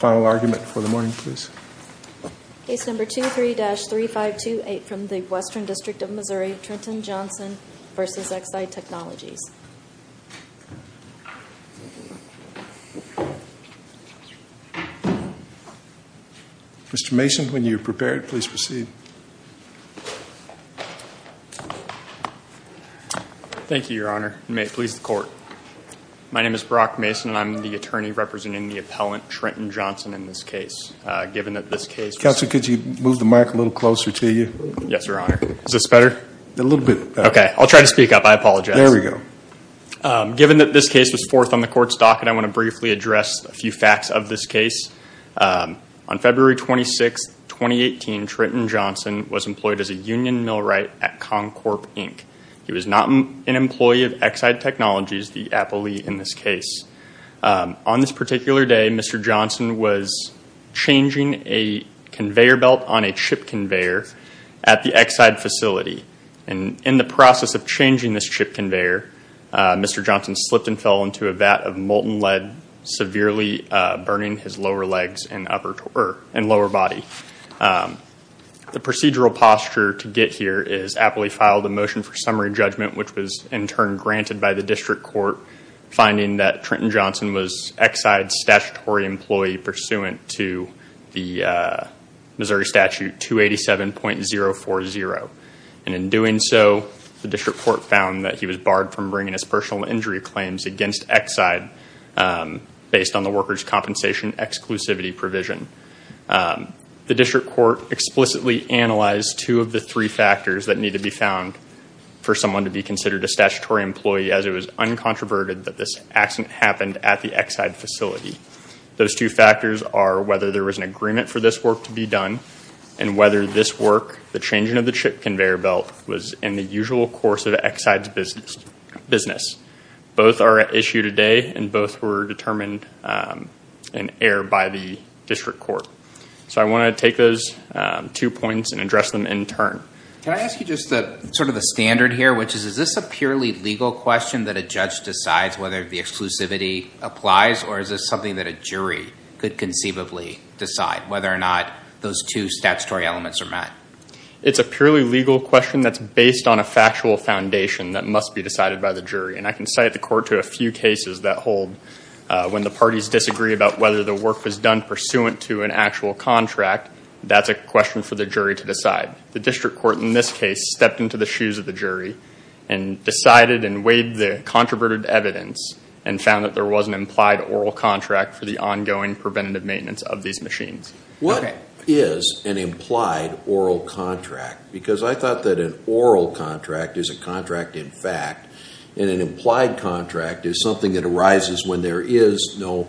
Mr. Mason, when you are prepared, please proceed. Thank you, Your Honor. And may it please the Court. My name is Brock Mason, and I'm the attorney representing the appellant Trenton Johnson in this case. Given that this case— Counselor, could you move the mic a little closer to you? Yes, Your Honor. Is this better? A little bit. Okay. I'll try to speak up. I apologize. There we go. Given that this case was fourth on the Court's docket, I want to briefly address a few facts of this case. On February 26, 2018, Trenton Johnson was employed as a union millwright at Concorp, Inc. He was not an employee of Exide Technologies, the appellee in this case. On this particular day, Mr. Johnson was changing a conveyor belt on a chip conveyor at the Exide facility. In the process of changing this chip conveyor, Mr. Johnson slipped and fell into a vat of molten lead, severely burning his lower legs and lower body. The procedural posture to get here is the appellee filed a motion for summary judgment, which was in turn granted by the District Court, finding that Trenton Johnson was Exide's statutory employee pursuant to the Missouri Statute 287.040. In doing so, the District Court found that he was barred from bringing his personal injury claims against Exide based on the workers' compensation exclusivity provision. The District Court explicitly analyzed two of the three factors that need to be found for someone to be considered a statutory employee as it was uncontroverted that this accident happened at the Exide facility. Those two factors are whether there was an agreement for this work to be done and whether this work, the changing of the chip conveyor belt, was in the usual course of Exide's business. Both are at issue today, and both were determined in error by the District Court. So I want to take those two points and address them in turn. Can I ask you just sort of the standard here, which is, is this a purely legal question that a judge decides whether the exclusivity applies, or is this something that a jury could conceivably decide, whether or not those two statutory elements are met? It's a purely legal question that's based on a factual foundation that must be decided by the jury. And I can cite the court to a few cases that hold when the parties disagree about whether the work was done pursuant to an actual contract, that's a question for the jury to decide. The District Court, in this case, stepped into the shoes of the jury and decided and weighed the controverted evidence and found that there was an implied oral contract for the ongoing preventative maintenance of these machines. What is an implied oral contract? Because I thought that an oral contract is a contract in fact, and an implied contract is something that arises when there is no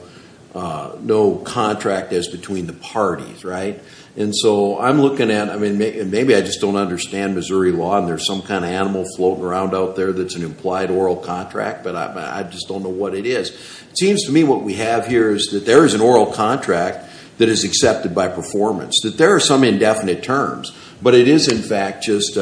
contract as between the parties, right? And so I'm looking at, I mean, maybe I just don't understand Missouri law, and there's some kind of animal floating around out there that's an implied oral contract, but I just don't know what it is. It seems to me what we have here is that there is an oral contract that is accepted by performance, that there are some indefinite terms, but it is in fact just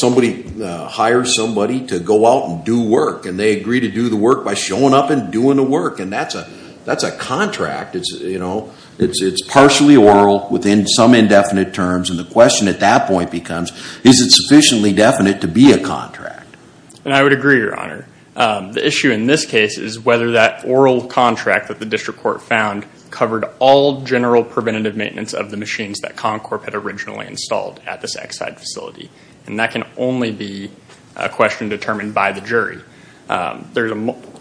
somebody hires somebody to go out and do work, and they agree to do the work by showing up and doing the work, and that's a contract. It's partially oral within some indefinite terms, and the question at that point becomes, is it sufficiently definite to be a contract? And I would agree, Your Honor. The issue in this case is whether that oral contract that the District Court found covered all general preventative maintenance of the machines that Concorp had originally installed at this Exide facility, and that can only be a question determined by the jury. There's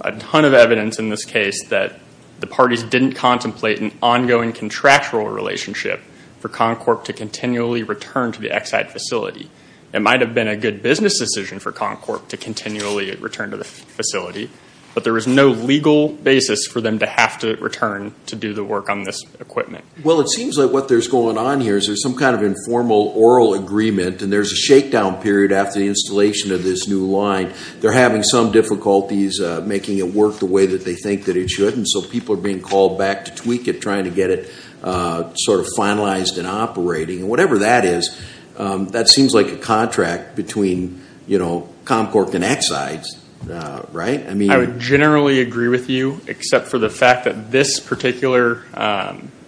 a ton of evidence in this case that the parties didn't contemplate an ongoing contractual relationship for Concorp to continually return to the Exide facility. It might have been a good business decision for Concorp to continually return to the facility, but there is no legal basis for them to have to return to do the work on this equipment. Well, it seems like what there's going on here is there's some kind of informal oral agreement, and there's a shakedown period after the installation of this new line. They're having some difficulties making it work the way that they think that it should, and so people are being called back to tweak it, trying to get it sort of finalized and operating, and whatever that is, that seems like a contract between, you know, Concorp and Exide, right? I would generally agree with you, except for the fact that this particular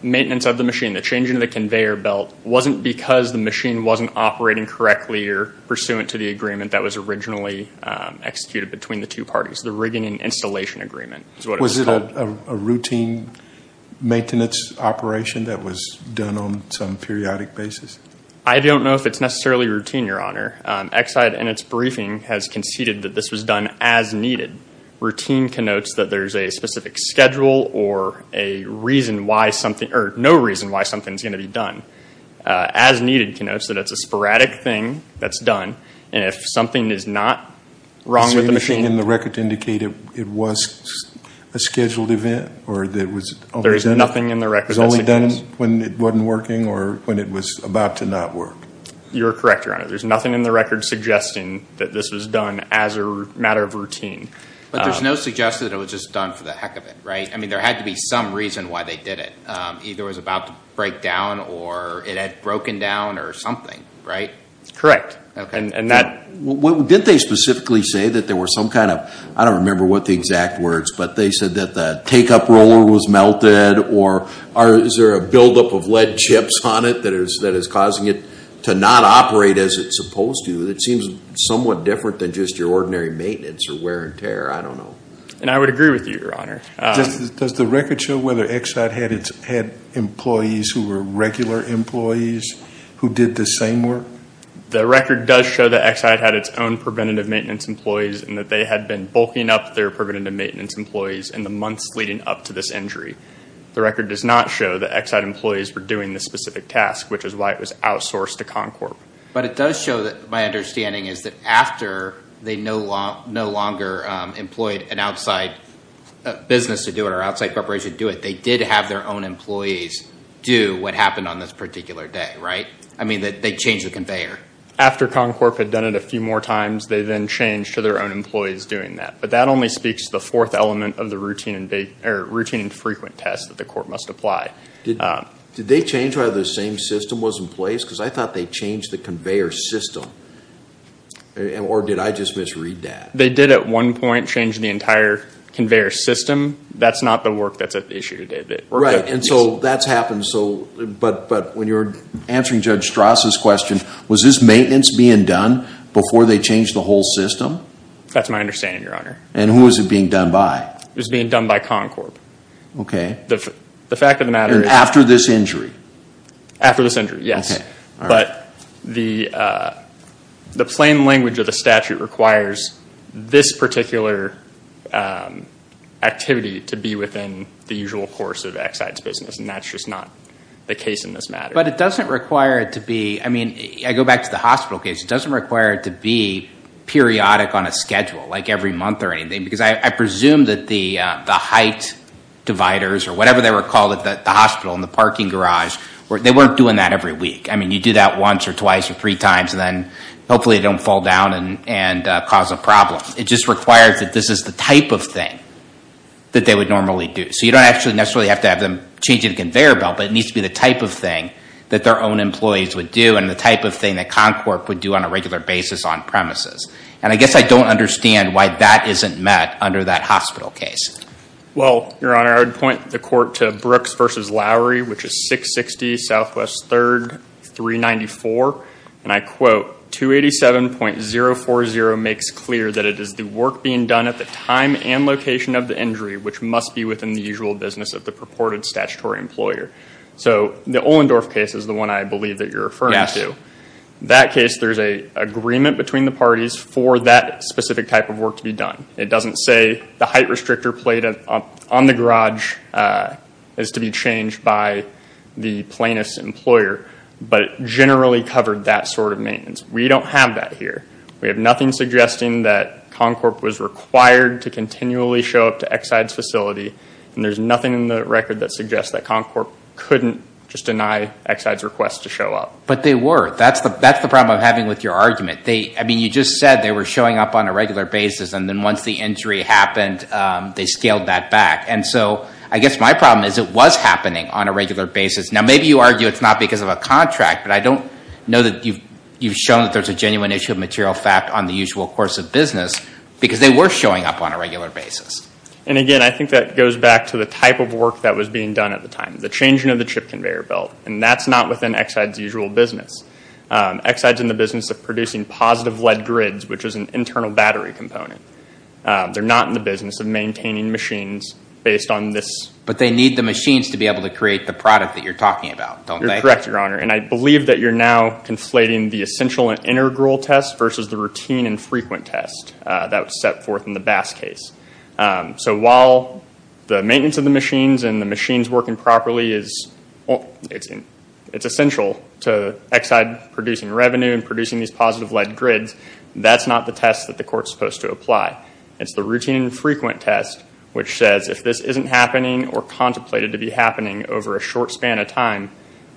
maintenance of the machine, the change in the conveyor belt, wasn't because the machine wasn't operating correctly or pursuant to the agreement that was originally executed between the two parties, the rigging and installation agreement, is what it was called. Was it a routine maintenance operation that was done on some periodic basis? I don't know if it's necessarily routine, Your Honor. Exide, in its briefing, has conceded that this was done as needed. Routine connotes that there's a specific schedule or a reason why something, or no reason why something's going to be done. As needed connotes that it's a sporadic thing that's done, and if something is not wrong with the machine... Is there anything in the record to indicate it was a scheduled event, or that it was... There is nothing in the record that indicates... It was only done when it wasn't working, or when it was about to not work? You're correct, Your Honor. There's nothing in the record suggesting that this was done as a matter of routine. But there's no suggestion that it was just done for the heck of it, right? I mean, there had to be some reason why they did it. Either it was about to break down, or it had broken down, or something, right? Correct. And that... Didn't they specifically say that there were some kind of... I don't remember what the exact words, but they said that the take-up roller was melted, or is there a buildup of lead chips on it that is causing it to not operate as it's supposed to? It seems somewhat different than just your ordinary maintenance, or wear and tear. I don't know. And I would agree with you, Your Honor. Does the record show whether Exide had employees who were regular employees who did the same work? The record does show that Exide had its own preventative maintenance employees, and that they had been bulking up their preventative maintenance employees in the months leading up to this injury. The record does not show that Exide employees were doing this specific task, which is why it was outsourced to Concorp. But it does show, my understanding is, that after they no longer employed an outside business to do it, or outside corporation to do it, they did have their own employees do what happened on this particular day, right? I mean, they changed the conveyor. After Concorp had done it a few more times, they then changed to their own employees doing that. But that only speaks to the fourth element of the routine and frequent tests that the court must apply. Did they change whether the same system was in place? Because I thought they changed the conveyor system. Or did I just misread that? They did, at one point, change the entire conveyor system. That's not the work that's at issue today. Right. And so that's happened. But when you're answering Judge Strauss's question, was this maintenance being done before they changed the whole system? That's my understanding, Your Honor. And who was it being done by? It was being done by Concorp. The fact of the matter is... And after this injury? After this injury, yes. But the plain language of the statute requires this particular activity to be within the usual course of Exide's business, and that's just not the case in this matter. But it doesn't require it to be, I mean, I go back to the hospital case. It doesn't require it to be periodic on a schedule, like every month or anything. Because I presume that the height dividers, or whatever they were called at the hospital in the parking garage, they weren't doing that every week. I mean, you do that once or twice or three times, and then hopefully it don't fall down and cause a problem. It just requires that this is the type of thing that they would normally do. So you don't actually necessarily have to have them change the conveyor belt, but it needs to be the type of thing that their own employees would do, and the type of thing that Concord would do on a regular basis on premises. And I guess I don't understand why that isn't met under that hospital case. Well, Your Honor, I would point the court to Brooks v. Lowry, which is 660 Southwest 3rd 394, and I quote, 287.040 makes clear that it is the work being done at the time and location of the injury, which must be within the usual business of the purported statutory employer. So the Ohlendorf case is the one I believe that you're referring to. That case, there's an agreement between the parties for that specific type of work to be done. It doesn't say the height restrictor plate on the garage is to be changed by the plaintiff's employer, but it generally covered that sort of maintenance. We don't have that here. We have nothing suggesting that Concord was required to continually show up to Exide's facility, and there's nothing in the record that suggests that Concord couldn't just deny Exide's request to show up. But they were. That's the problem I'm having with your argument. You just said they were showing up on a regular basis, and then once the injury happened, they scaled that back. And so I guess my problem is it was happening on a regular basis. Now maybe you argue it's not because of a contract, but I don't know that you've shown that there's a genuine issue of material fact on the usual course of business, because they were showing up on a regular basis. And again, I think that goes back to the type of work that was being done at the time. The changing of the chip conveyor belt. And that's not within Exide's usual business. Exide's in the business of producing positive lead grids, which is an internal battery component. They're not in the business of maintaining machines based on this. But they need the machines to be able to create the product that you're talking about, don't they? You're correct, Your Honor. And I believe that you're now conflating the essential and integral test versus the routine and frequent test that was set forth in the Bass case. So while the maintenance of the machines and the machines working properly, it's essential to Exide producing revenue and producing these positive lead grids. That's not the test that the court's supposed to apply. It's the routine and frequent test, which says if this isn't happening or contemplated to be happening over a short span of time,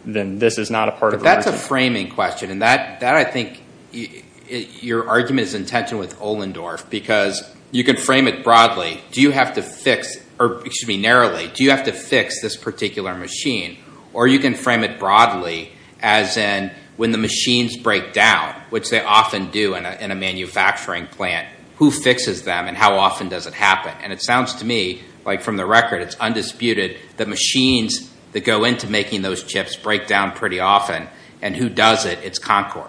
then this is not a part of the reason. But that's a framing question. And that, I think, your argument is in tension with Ohlendorf, because you can frame it broadly. Do you have to fix, or excuse me, narrowly, do you have to fix this particular machine? Or you can frame it broadly, as in when the machines break down, which they often do in a manufacturing plant, who fixes them and how often does it happen? And it sounds to me like, from the record, it's undisputed that machines that go into making those chips break down pretty often. And who does it? It's Concorp.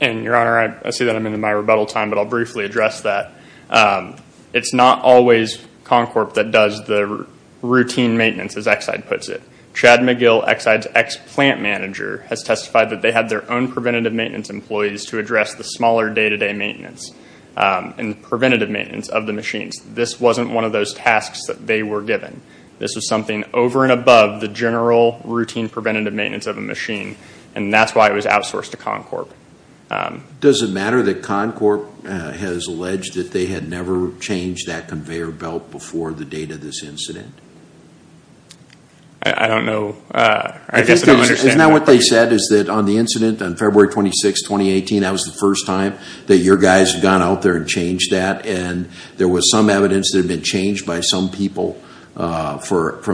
And your Honor, I see that I'm in my rebuttal time, but I'll briefly address that. It's not always Concorp that does the routine maintenance, as Exide puts it. Chad McGill, Exide's ex-plant manager, has testified that they had their own preventative maintenance employees to address the smaller day-to-day maintenance and preventative maintenance of the machines. This wasn't one of those tasks that they were given. This was something over and above the general routine preventative maintenance of a machine. And that's why it was outsourced to Concorp. Does it matter that Concorp has alleged that they had never changed that conveyor belt before the date of this incident? I don't know. I guess I don't understand that. Isn't that what they said, is that on the incident on February 26, 2018, that was the first time that your guys had gone out there and changed that? And there was some evidence that had been changed by some people from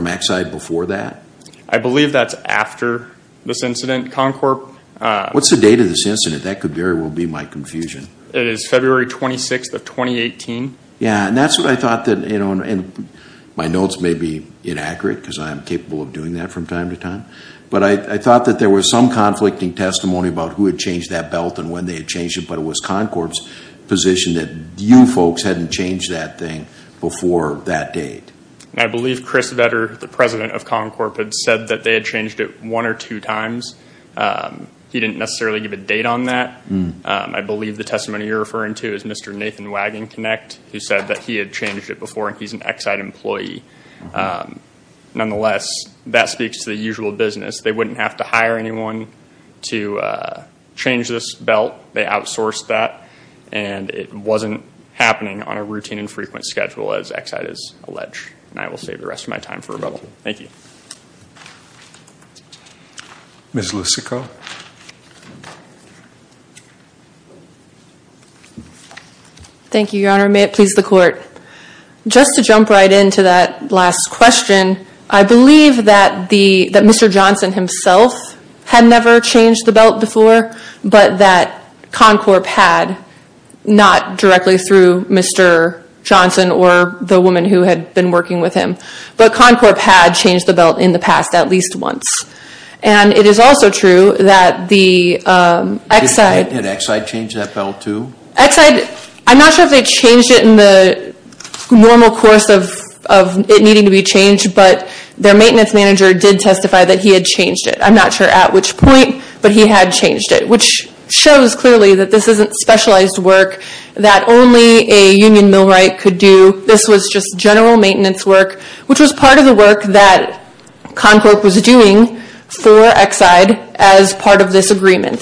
Exide before that? I believe that's after this incident. Concorp... What's the date of this incident? That could very well be my confusion. It is February 26th of 2018. Yeah, and that's what I thought that, you know, and my notes may be inaccurate because I'm capable of doing that from time to time. But I thought that there was some conflicting testimony about who had changed that belt and when they had changed it, but it was Concorp's position that you folks hadn't changed that thing before that date. I believe Chris Vetter, the president of Concorp, had said that they had changed it one or two times. He didn't necessarily give a date on that. I believe the testimony you're referring to is Mr. Nathan Wagon-Knecht, who said that he had changed it before and he's an Exide employee. Nonetheless, that speaks to the usual business. They wouldn't have to hire anyone to change this belt. They outsourced that and it wasn't happening on a routine and frequent schedule, as Exide is alleged. And I will save the rest of my time for rebuttal. Thank you. Ms. Lussico. Thank you, Your Honor. May it please the Court. Just to jump right into that last question, I believe that Mr. Johnson himself had never changed the belt before, but that Concorp had. Not directly through Mr. Johnson or the woman who had been working with him, but Concorp had changed the belt in the past at least once. And it is also true that the Exide... Did Exide change that belt too? Exide, I'm not sure if they changed it in the normal course of it needing to be changed, but their maintenance manager did testify that he had changed it. I'm not sure at which point, but he had changed it, which shows clearly that this isn't specialized work that only a union millwright could do. This was just general maintenance work, which was part of the work that Concorp was doing for Exide as part of this agreement.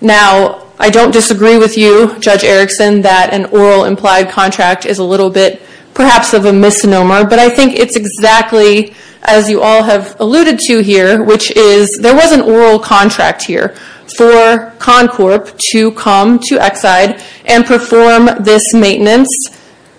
Now, I don't disagree with you, Judge Erickson, that an oral implied contract is a little bit perhaps of a misnomer, but I think it's exactly as you all have alluded to here, which is, there was an oral contract here for Concorp to come to Exide and perform this maintenance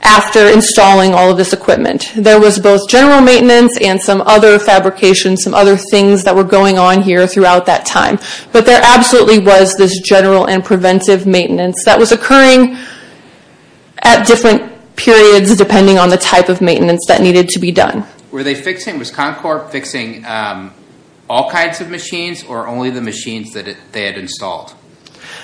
after installing all of this equipment. There was both general maintenance and some other fabrication, some other things that were going on here throughout that time. But there absolutely was this general and preventive maintenance that was occurring at different periods, depending on the type of maintenance that needed to be done. Were they fixing, was Concorp fixing all kinds of machines or only the machines that they had installed?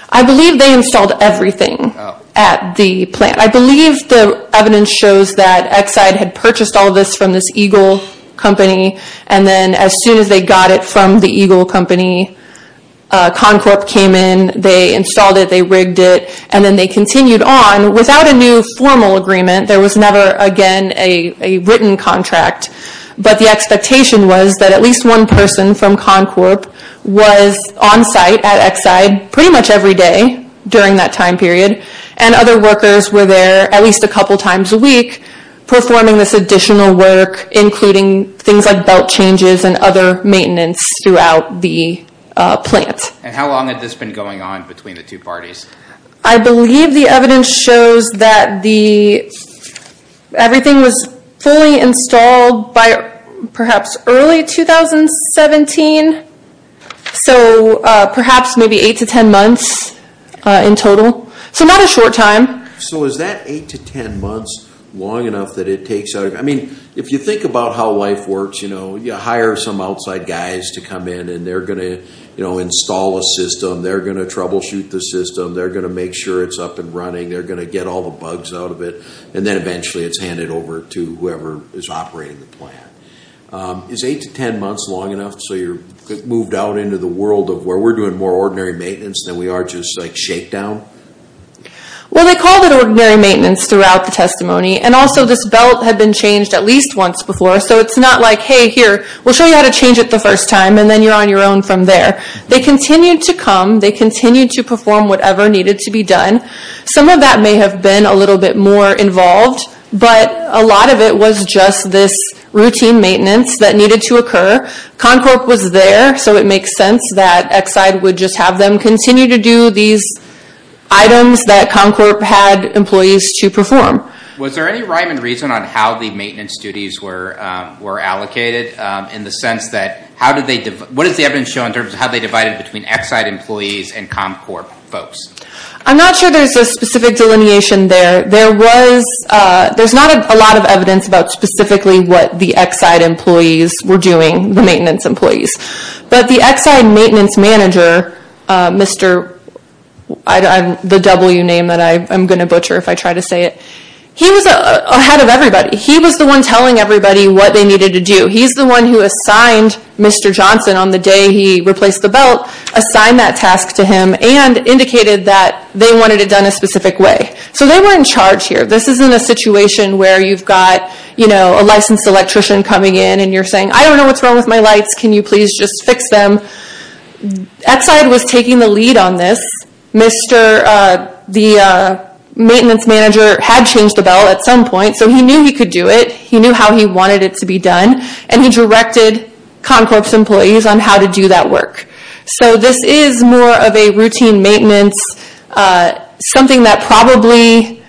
I believe they installed everything at the plant. I believe the evidence shows that Exide had purchased all of this from this Eagle company, and then as soon as they got it from the Eagle company, Concorp came in, they installed it, they rigged it, and then they continued on without a new formal agreement. There was never again a written contract, but the expectation was that at least one person from Concorp was on site at Exide pretty much every day during that time period, and other workers were there at least a couple times a week performing this additional work, including things like belt changes and other maintenance throughout the plant. How long had this been going on between the two parties? I believe the evidence shows that everything was fully installed by perhaps early 2017, so perhaps maybe 8 to 10 months in total. So not a short time. So is that 8 to 10 months long enough that it takes? If you think about how life works, you hire some outside guys to come in and they're going to install a system, they're going to troubleshoot the system, they're going to make sure it's up and running, they're going to get all the bugs out of it, and then eventually it's handed over to whoever is operating the plant. Is 8 to 10 months long enough so you're moved out into the world of where we're doing more ordinary maintenance than we are just like shakedown? Well, they called it ordinary maintenance throughout the testimony, and also this belt had been changed at least once before. So it's not like, hey, here, we'll show you how to change it the first time and then you're on your own from there. They continued to come, they continued to perform whatever needed to be done. Some of that may have been a little bit more involved, but a lot of it was just this routine maintenance that needed to occur. Concorp was there, so it makes sense that Exide would just have them continue to do these items that Concorp had employees to perform. Was there any rhyme and reason on how the maintenance duties were allocated in the sense that how did they, what does the evidence show in terms of how they divided between Exide employees and Concorp folks? I'm not sure there's a specific delineation there. There was, there's not a lot of evidence about specifically what the Exide employees were doing, the maintenance employees, but the Exide maintenance manager, Mr., the W name that I'm going to butcher if I try to say it, he was ahead of everybody. He was the one telling everybody what they needed to do. He's the one who assigned Mr. Johnson on the day he replaced the belt, assigned that task to him and indicated that they wanted it done a specific way. So they were in charge here. This isn't a situation where you've got a licensed electrician coming in and you're saying, I don't know what's wrong with my lights. Can you please just fix them? Exide was taking the lead on this. Mr., the maintenance manager had changed the belt at some point, so he knew he could do it. He knew how he wanted it to be done and he directed Concorp's employees on how to do that work. So this is more of a routine maintenance, something that probably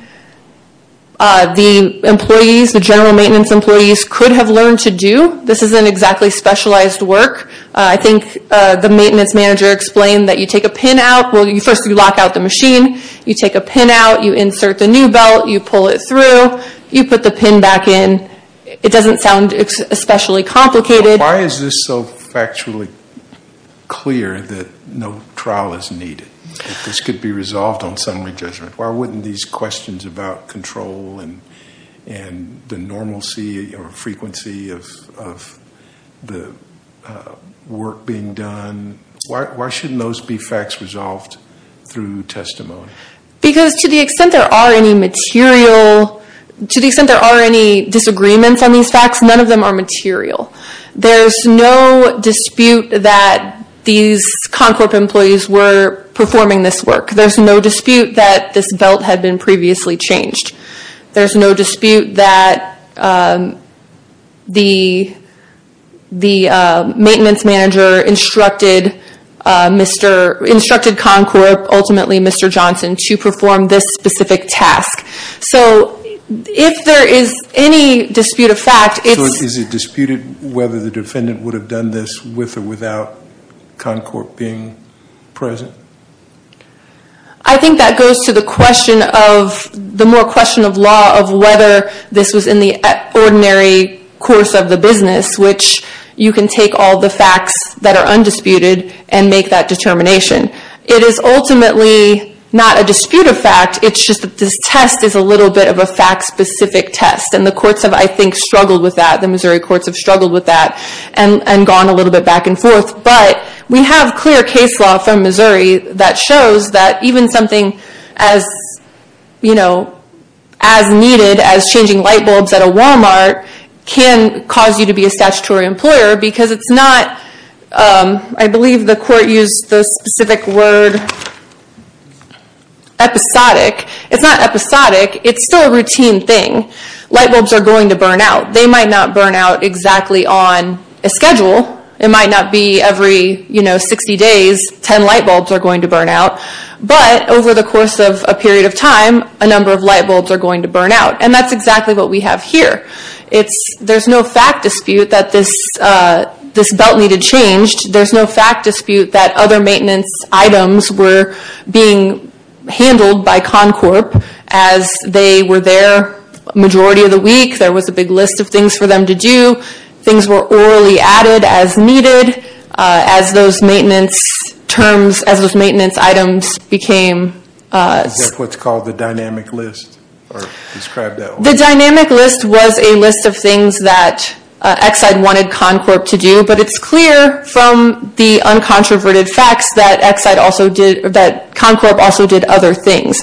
the employees, the general maintenance employees could have learned to do. This isn't exactly specialized work. I think the maintenance manager explained that you take a pin out, first you lock out the machine, you take a pin out, you insert the new belt, you pull it through, you put the pin back in. It doesn't sound especially complicated. Why is this so factually clear that no trial is needed, that this could be resolved on summary judgment? Why wouldn't these questions about control and the normalcy or frequency of the work being done, why shouldn't those be facts resolved through testimony? Because to the extent there are any disagreements on these facts, none of them are material. There's no dispute that these Concorp employees were performing this work. There's no dispute that this belt had been previously changed. There's no dispute that the maintenance manager instructed Concorp, ultimately Mr. Johnson, to perform this specific task. So if there is any dispute of fact, it's... So is it disputed whether the defendant would have done this with or without Concorp being present? I think that goes to the question of, the more question of law, of whether this was in the ordinary course of the business, which you can take all the facts that are undisputed and make that determination. It is ultimately not a dispute of fact, it's just that this test is a little bit of a fact specific test and the courts have, I think, struggled with that. The Missouri courts have struggled with that and gone a little bit back and forth. But we have clear case law from Missouri that shows that even something as needed as changing light bulbs at a Walmart can cause you to be a statutory employer because it's not, I believe the court used the specific word, episodic. It's not episodic, it's still a routine thing. Light bulbs are going to burn out. They might not burn out exactly on a schedule. It might not be every 60 days 10 light bulbs are going to burn out, but over the course of a period of time, a number of light bulbs are going to burn out. And that's exactly what we have here. There's no fact dispute that this belt needed changed. There's no fact dispute that other maintenance items were being handled by Concorp as they were there majority of the week. There was a big list of things for them to do. Things were orally added as needed, as those maintenance terms, as those maintenance items became. Is that what's called the dynamic list? The dynamic list was a list of things that Exide wanted Concorp to do, but it's clear from the uncontroverted facts that Concorp also did other things.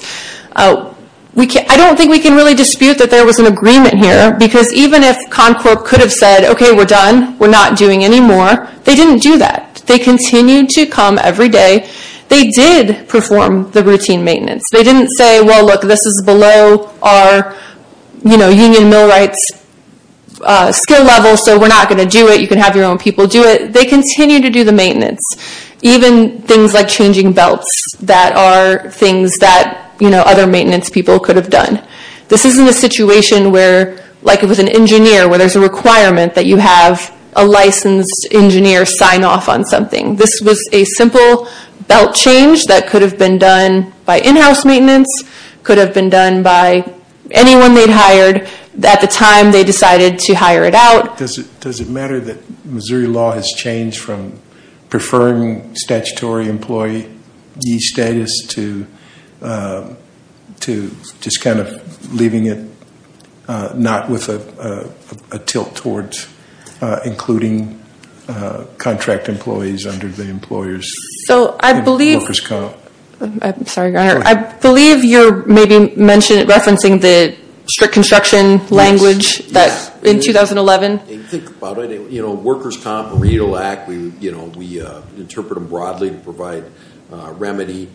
I don't think we can really dispute that there was an agreement here because even if Concorp could have said, okay, we're done, we're not doing any more, they didn't do that. They continued to come every day. They did perform the routine maintenance. They didn't say, well, look, this is below our union mill rights skill level, so we're not going to do it. You can have your own people do it. They continue to do the maintenance. Even things like changing belts that are things that other maintenance people could have done. This isn't a situation where, like if it was an engineer, where there's a requirement that you have a licensed engineer sign off on something. This was a simple belt change that could have been done by in-house maintenance, could have been done by anyone they'd hired at the time they decided to hire it out. Does it matter that Missouri law has changed from preferring statutory employee status to just kind of leaving it not with a tilt towards including contract employees under the employers? So I believe- Workers' Comp. I'm sorry, your honor. I believe you're maybe referencing the strict construction language in 2011. Think about it. Workers' Comp, remedial act, we interpret them broadly to provide remedy.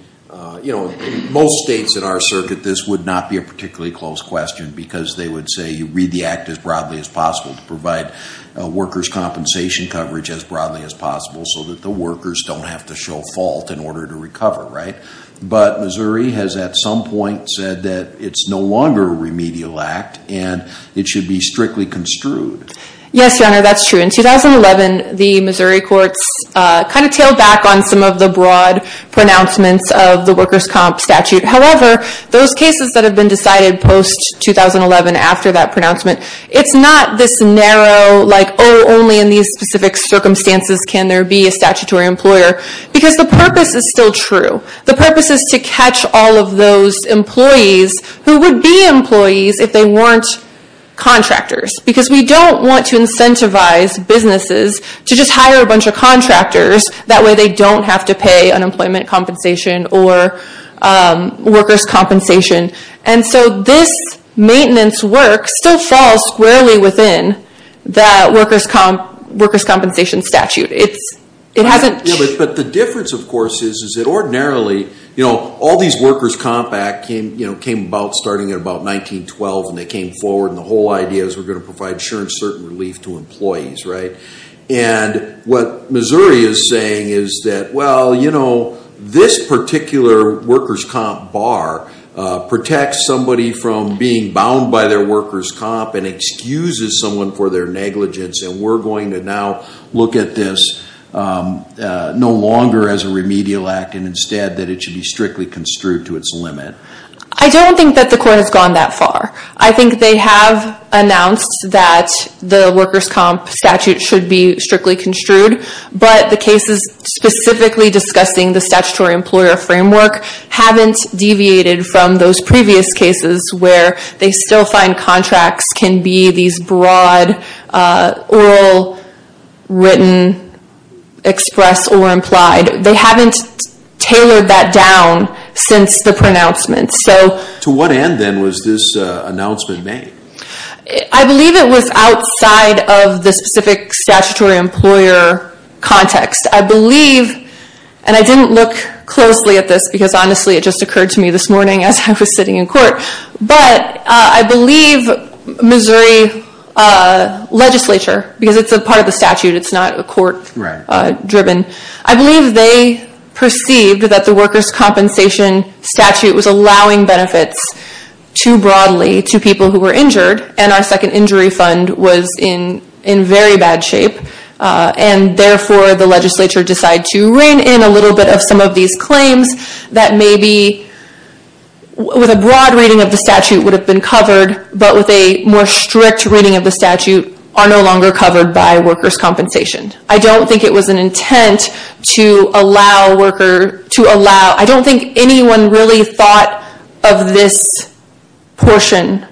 In most states in our circuit, this would not be a particularly close question because they would say you read the act as broadly as possible to provide workers' compensation coverage as broadly as possible so that the workers don't have to show fault in order to recover, right? But Missouri has at some point said that it's no longer a remedial act and it should be strictly construed. Yes, your honor. That's true. In 2011, the Missouri courts kind of tailed back on some of the broad pronouncements of the Workers' Comp. statute. However, those cases that have been decided post-2011 after that pronouncement, it's not this narrow, like, oh, only in these specific circumstances can there be a statutory employer because the purpose is still true. The purpose is to catch all of those employees who would be employees if they weren't contractors because we don't want to incentivize businesses to just hire a bunch of contractors. That way they don't have to pay unemployment compensation or workers' compensation. And so this maintenance work still falls squarely within that workers' compensation statute. But the difference, of course, is that ordinarily, you know, all these Workers' Comp. Act came about starting in about 1912 and they came forward and the whole idea is we're going to provide sure and certain relief to employees, right? And what Missouri is saying is that, well, you know, this particular Workers' Comp. bar protects somebody from being bound by their Workers' Comp. and excuses someone for their negligence and we're going to now look at this no longer as a remedial act and instead that it should be strictly construed to its limit. I don't think that the court has gone that far. I think they have announced that the Workers' Comp. statute should be strictly construed but the cases specifically discussing the statutory employer framework haven't deviated from those previous cases where they still find contracts can be these broad, oral, written, express or implied. They haven't tailored that down since the pronouncement. To what end, then, was this announcement made? I believe it was outside of the specific statutory employer context. I believe, and I didn't look closely at this because honestly it just occurred to me this morning as I was sitting in court, but I believe Missouri legislature, because it's a part of the statute, it's not a court-driven. I believe they perceived that the Workers' Comp. statute was allowing benefits too broadly to people who were injured and our Second Injury Fund was in very bad shape and therefore the legislature decided to rein in a little bit of some of these claims that maybe with a broad reading of the statute would have been covered but with a more strict reading of the statute are no longer covered by Workers' Comp. I don't think it was an intent to allow, I don't think anyone really thought of this portion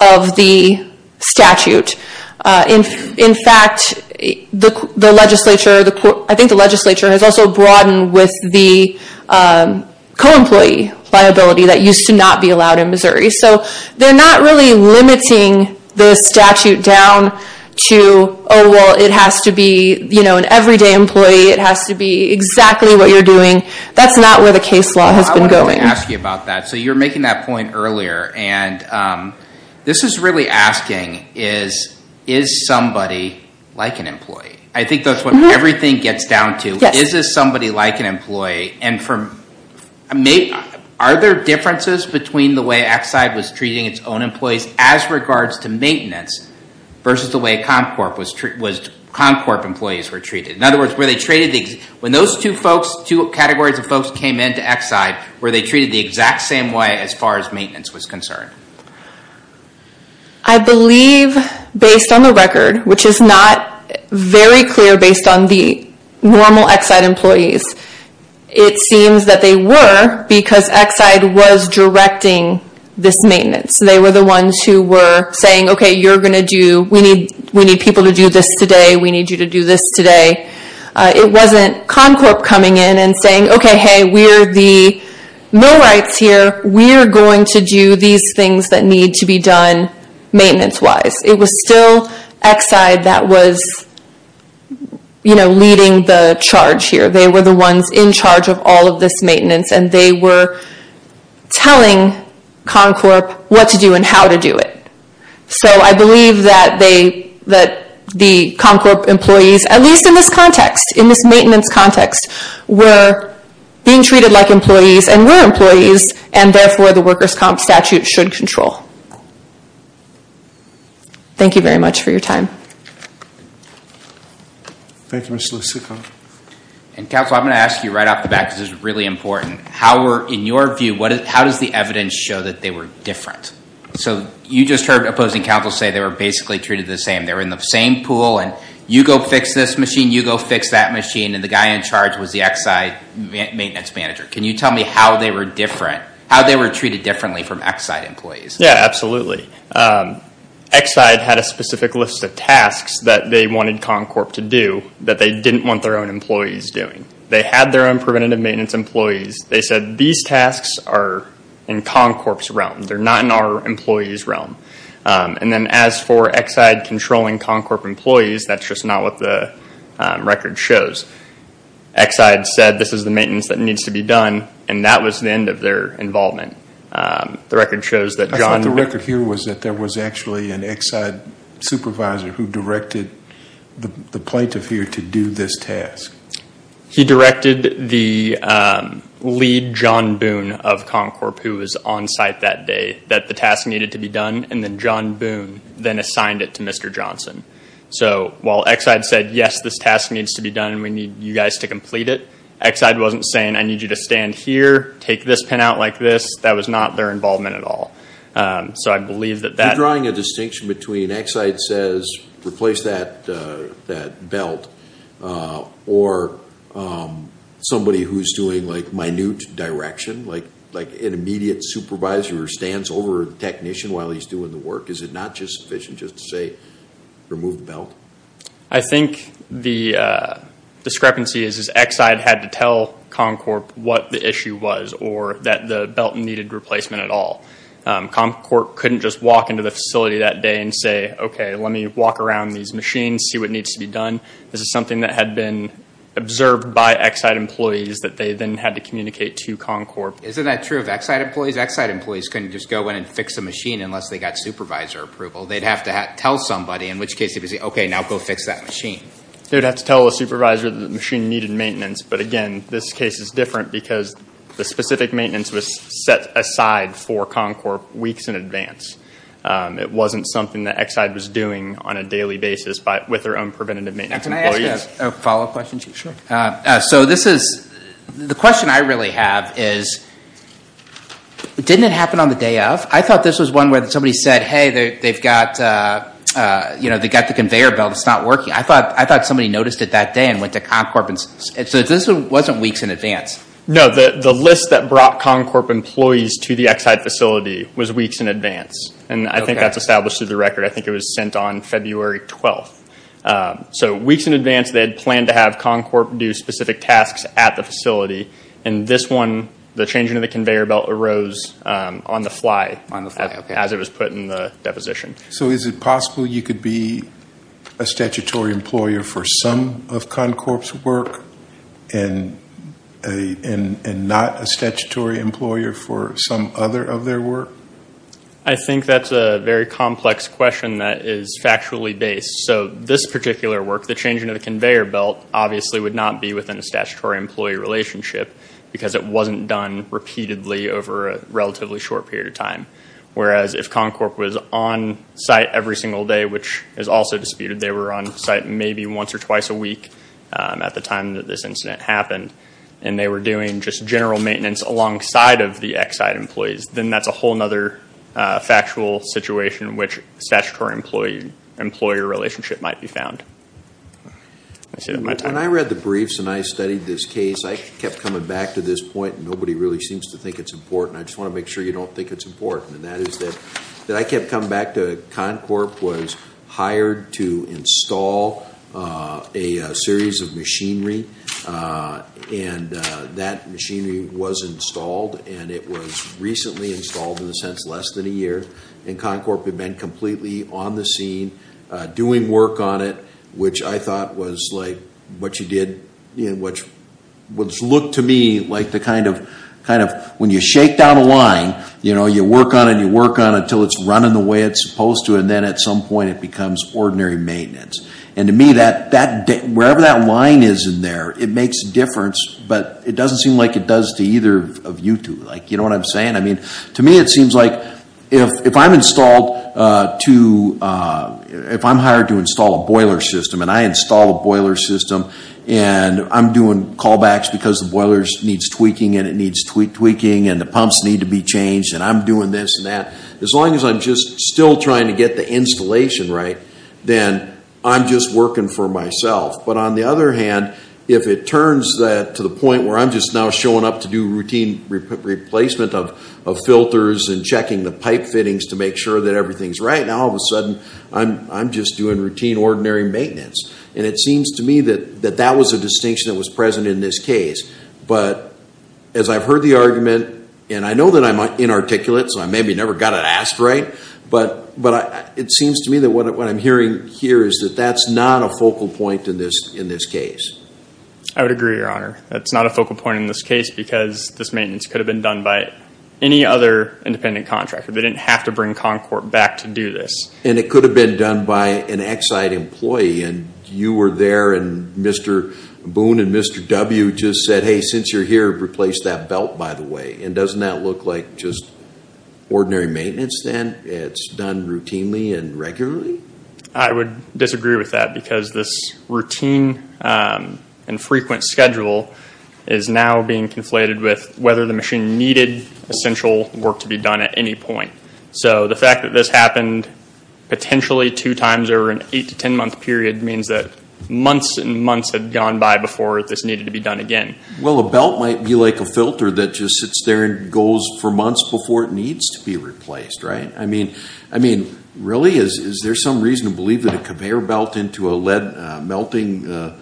of the statute. In fact, I think the legislature has also broadened with the co-employee liability that used to not be allowed in Missouri. They're not really limiting the statute down to, oh well, it has to be an everyday employee, it has to be exactly what you're doing. That's not where the case law has been going. I wanted to ask you about that. You were making that point earlier. This is really asking, is somebody like an employee? I think that's what everything gets down to. Is this somebody like an employee? Are there differences between the way Exide was treating its own employees as regards to maintenance versus the way Comcorp employees were treated? In other words, when those two categories of folks came into Exide, were they treated the exact same way as far as maintenance was concerned? I believe based on the record, which is not very clear based on the normal Exide employees, it seems that they were because Exide was directing this maintenance. They were the ones who were saying, okay, we need people to do this today, we need you to do this today. It wasn't Comcorp coming in and saying, okay, hey, we're the millwrights here, we're going to do these things that need to be done maintenance-wise. It was still Exide that was leading the charge here. They were the ones in charge of all of this maintenance, and they were telling Comcorp what to do and how to do it. I believe that the Comcorp employees, at least in this context, in this maintenance context, were being treated like employees and were employees, and therefore the workers' comp statute should control. Thank you very much for your time. Thank you, Mr. Lussico. Counsel, I'm going to ask you right off the bat, because this is really important. In your view, how does the evidence show that they were different? You just heard opposing counsel say they were basically treated the same. They were in the same pool, and you go fix this machine, you go fix that machine, and the guy in charge was the Exide maintenance manager. Can you tell me how they were different, how they were treated differently from Exide employees? Yeah, absolutely. Exide had a specific list of tasks that they wanted Comcorp to do that they didn't want their own employees doing. They had their own preventative maintenance employees. They said these tasks are in Comcorp's realm. They're not in our employees' realm. As for Exide controlling Comcorp employees, that's just not what the record shows. Exide said this is the maintenance that needs to be done, and that was the end of their involvement. I thought the record here was that there was actually an Exide supervisor who directed the plaintiff here to do this task. He directed the lead, John Boone, of Comcorp, who was on site that day, that the task needed to be done, and then John Boone then assigned it to Mr. Johnson. While Exide said, yes, this task needs to be done, and we need you guys to complete it, Exide wasn't saying, I need you to stand here, take this pin out like this. That was not their involvement at all. So I believe that that- You're drawing a distinction between Exide says, replace that belt, or somebody who's doing minute direction, like an immediate supervisor who stands over a technician while he's doing the work. Is it not just sufficient just to say, remove the belt? I think the discrepancy is Exide had to tell Comcorp what the issue was, or that the belt needed replacement at all. Comcorp couldn't just walk into the facility that day and say, okay, let me walk around these machines, see what needs to be done. This is something that had been observed by Exide employees that they then had to communicate to Comcorp. Isn't that true of Exide employees? Exide employees couldn't just go in and fix a machine unless they got supervisor approval. They'd have to tell somebody, in which case they'd be saying, okay, now go fix that machine. They'd have to tell the supervisor that the machine needed maintenance. But again, this case is different because the specific maintenance was set aside for Comcorp weeks in advance. It wasn't something that Exide was doing on a daily basis with their own preventative maintenance employees. Can I ask a follow-up question? Sure. So this is, the question I really have is, didn't it happen on the day of? I thought this was one where somebody said, hey, they've got the conveyor belt, it's not working. I thought somebody noticed it that day and went to Comcorp. So this wasn't weeks in advance? No. The list that brought Comcorp employees to the Exide facility was weeks in advance. And I think that's established through the record. I think it was sent on February 12th. So weeks in advance, they had planned to have Comcorp do specific tasks at the facility. And this one, the changing of the conveyor belt arose on the fly as it was put in the deposition. So is it possible you could be a statutory employer for some of Comcorp's work and not a statutory employer for some other of their work? I think that's a very complex question that is factually based. So this particular work, the changing of the conveyor belt, obviously would not be within a statutory employee relationship because it wasn't done repeatedly over a relatively short period of time. Whereas if Comcorp was on site every single day, which is also disputed, they were on site maybe once or twice a week at the time that this incident happened. And they were doing just general maintenance alongside of the Exide employees. Then that's a whole other factual situation in which a statutory employer relationship might be found. I should have my time. When I read the briefs and I studied this case, I kept coming back to this point. Nobody really seems to think it's important. I just want to make sure you don't think it's important. And that is that I kept coming back to Comcorp was hired to install a series of machinery. And that machinery was installed. And it was recently installed, in a sense, less than a year. And Comcorp had been completely on the scene, doing work on it, which I thought was like what you did, which looked to me like the kind of, when you shake down a line, you work on it and you work on it until it's running the way it's supposed to. And then at some point, it becomes ordinary maintenance. And to me, wherever that line is in there, it makes a difference. But it doesn't seem like it does to either of you two. You know what I'm saying? I mean, to me it seems like if I'm installed to, if I'm hired to install a boiler system and I install a boiler system and I'm doing callbacks because the boiler needs tweaking and it needs tweaking and the pumps need to be changed and I'm doing this and that, as long as I'm just still trying to get the installation right, then I'm just working for myself. But on the other hand, if it turns to the point where I'm just now showing up to do routine replacement of filters and checking the pipe fittings to make sure that everything's right, now all of a sudden I'm just doing routine, ordinary maintenance. And it seems to me that that was a distinction that was present in this case. But as I've heard the argument, and I know that I'm inarticulate, so I maybe never got it asked right, but it seems to me that what I'm hearing here is that that's not a focal point in this case. I would agree, Your Honor. That's not a focal point in this case because this maintenance could have been done by any other independent contractor. They didn't have to bring Concord back to do this. And it could have been done by an Exide employee and you were there and Mr. Boone and Mr. W. just said, hey, since you're here, replace that belt, by the way. And doesn't that look like just ordinary maintenance then? It's done routinely and regularly? I would disagree with that because this routine and frequent schedule is now being conflated with whether the machine needed essential work to be done at any point. So the fact that this happened potentially two times over an eight to ten month period means that months and months had gone by before this needed to be done again. Well, a belt might be like a filter that just sits there and goes for months before it needs to be replaced, right? I mean, really? Is there some reason to believe that a conveyor belt into a lead melting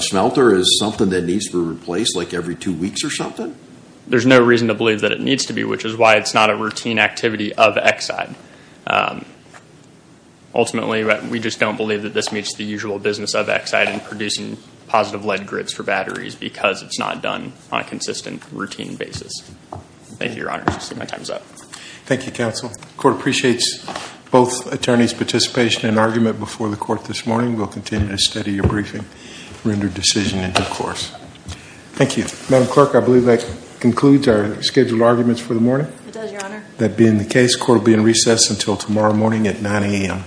smelter is something that needs to be replaced like every two weeks or something? There's no reason to believe that it needs to be, which is why it's not a routine activity of Exide. Ultimately, we just don't believe that this meets the usual business of Exide in producing positive lead grids for batteries because it's not done on a consistent routine basis. Thank you, Your Honor. I see my time's up. Thank you, counsel. The court appreciates both attorneys' participation and argument before the court this morning. We'll continue to study your briefing, render decision in due course. Thank you. Madam Clerk, I believe that concludes our scheduled arguments for the morning. It does, Your Honor. That being the case, court will be in recess until tomorrow morning at 9 a.m.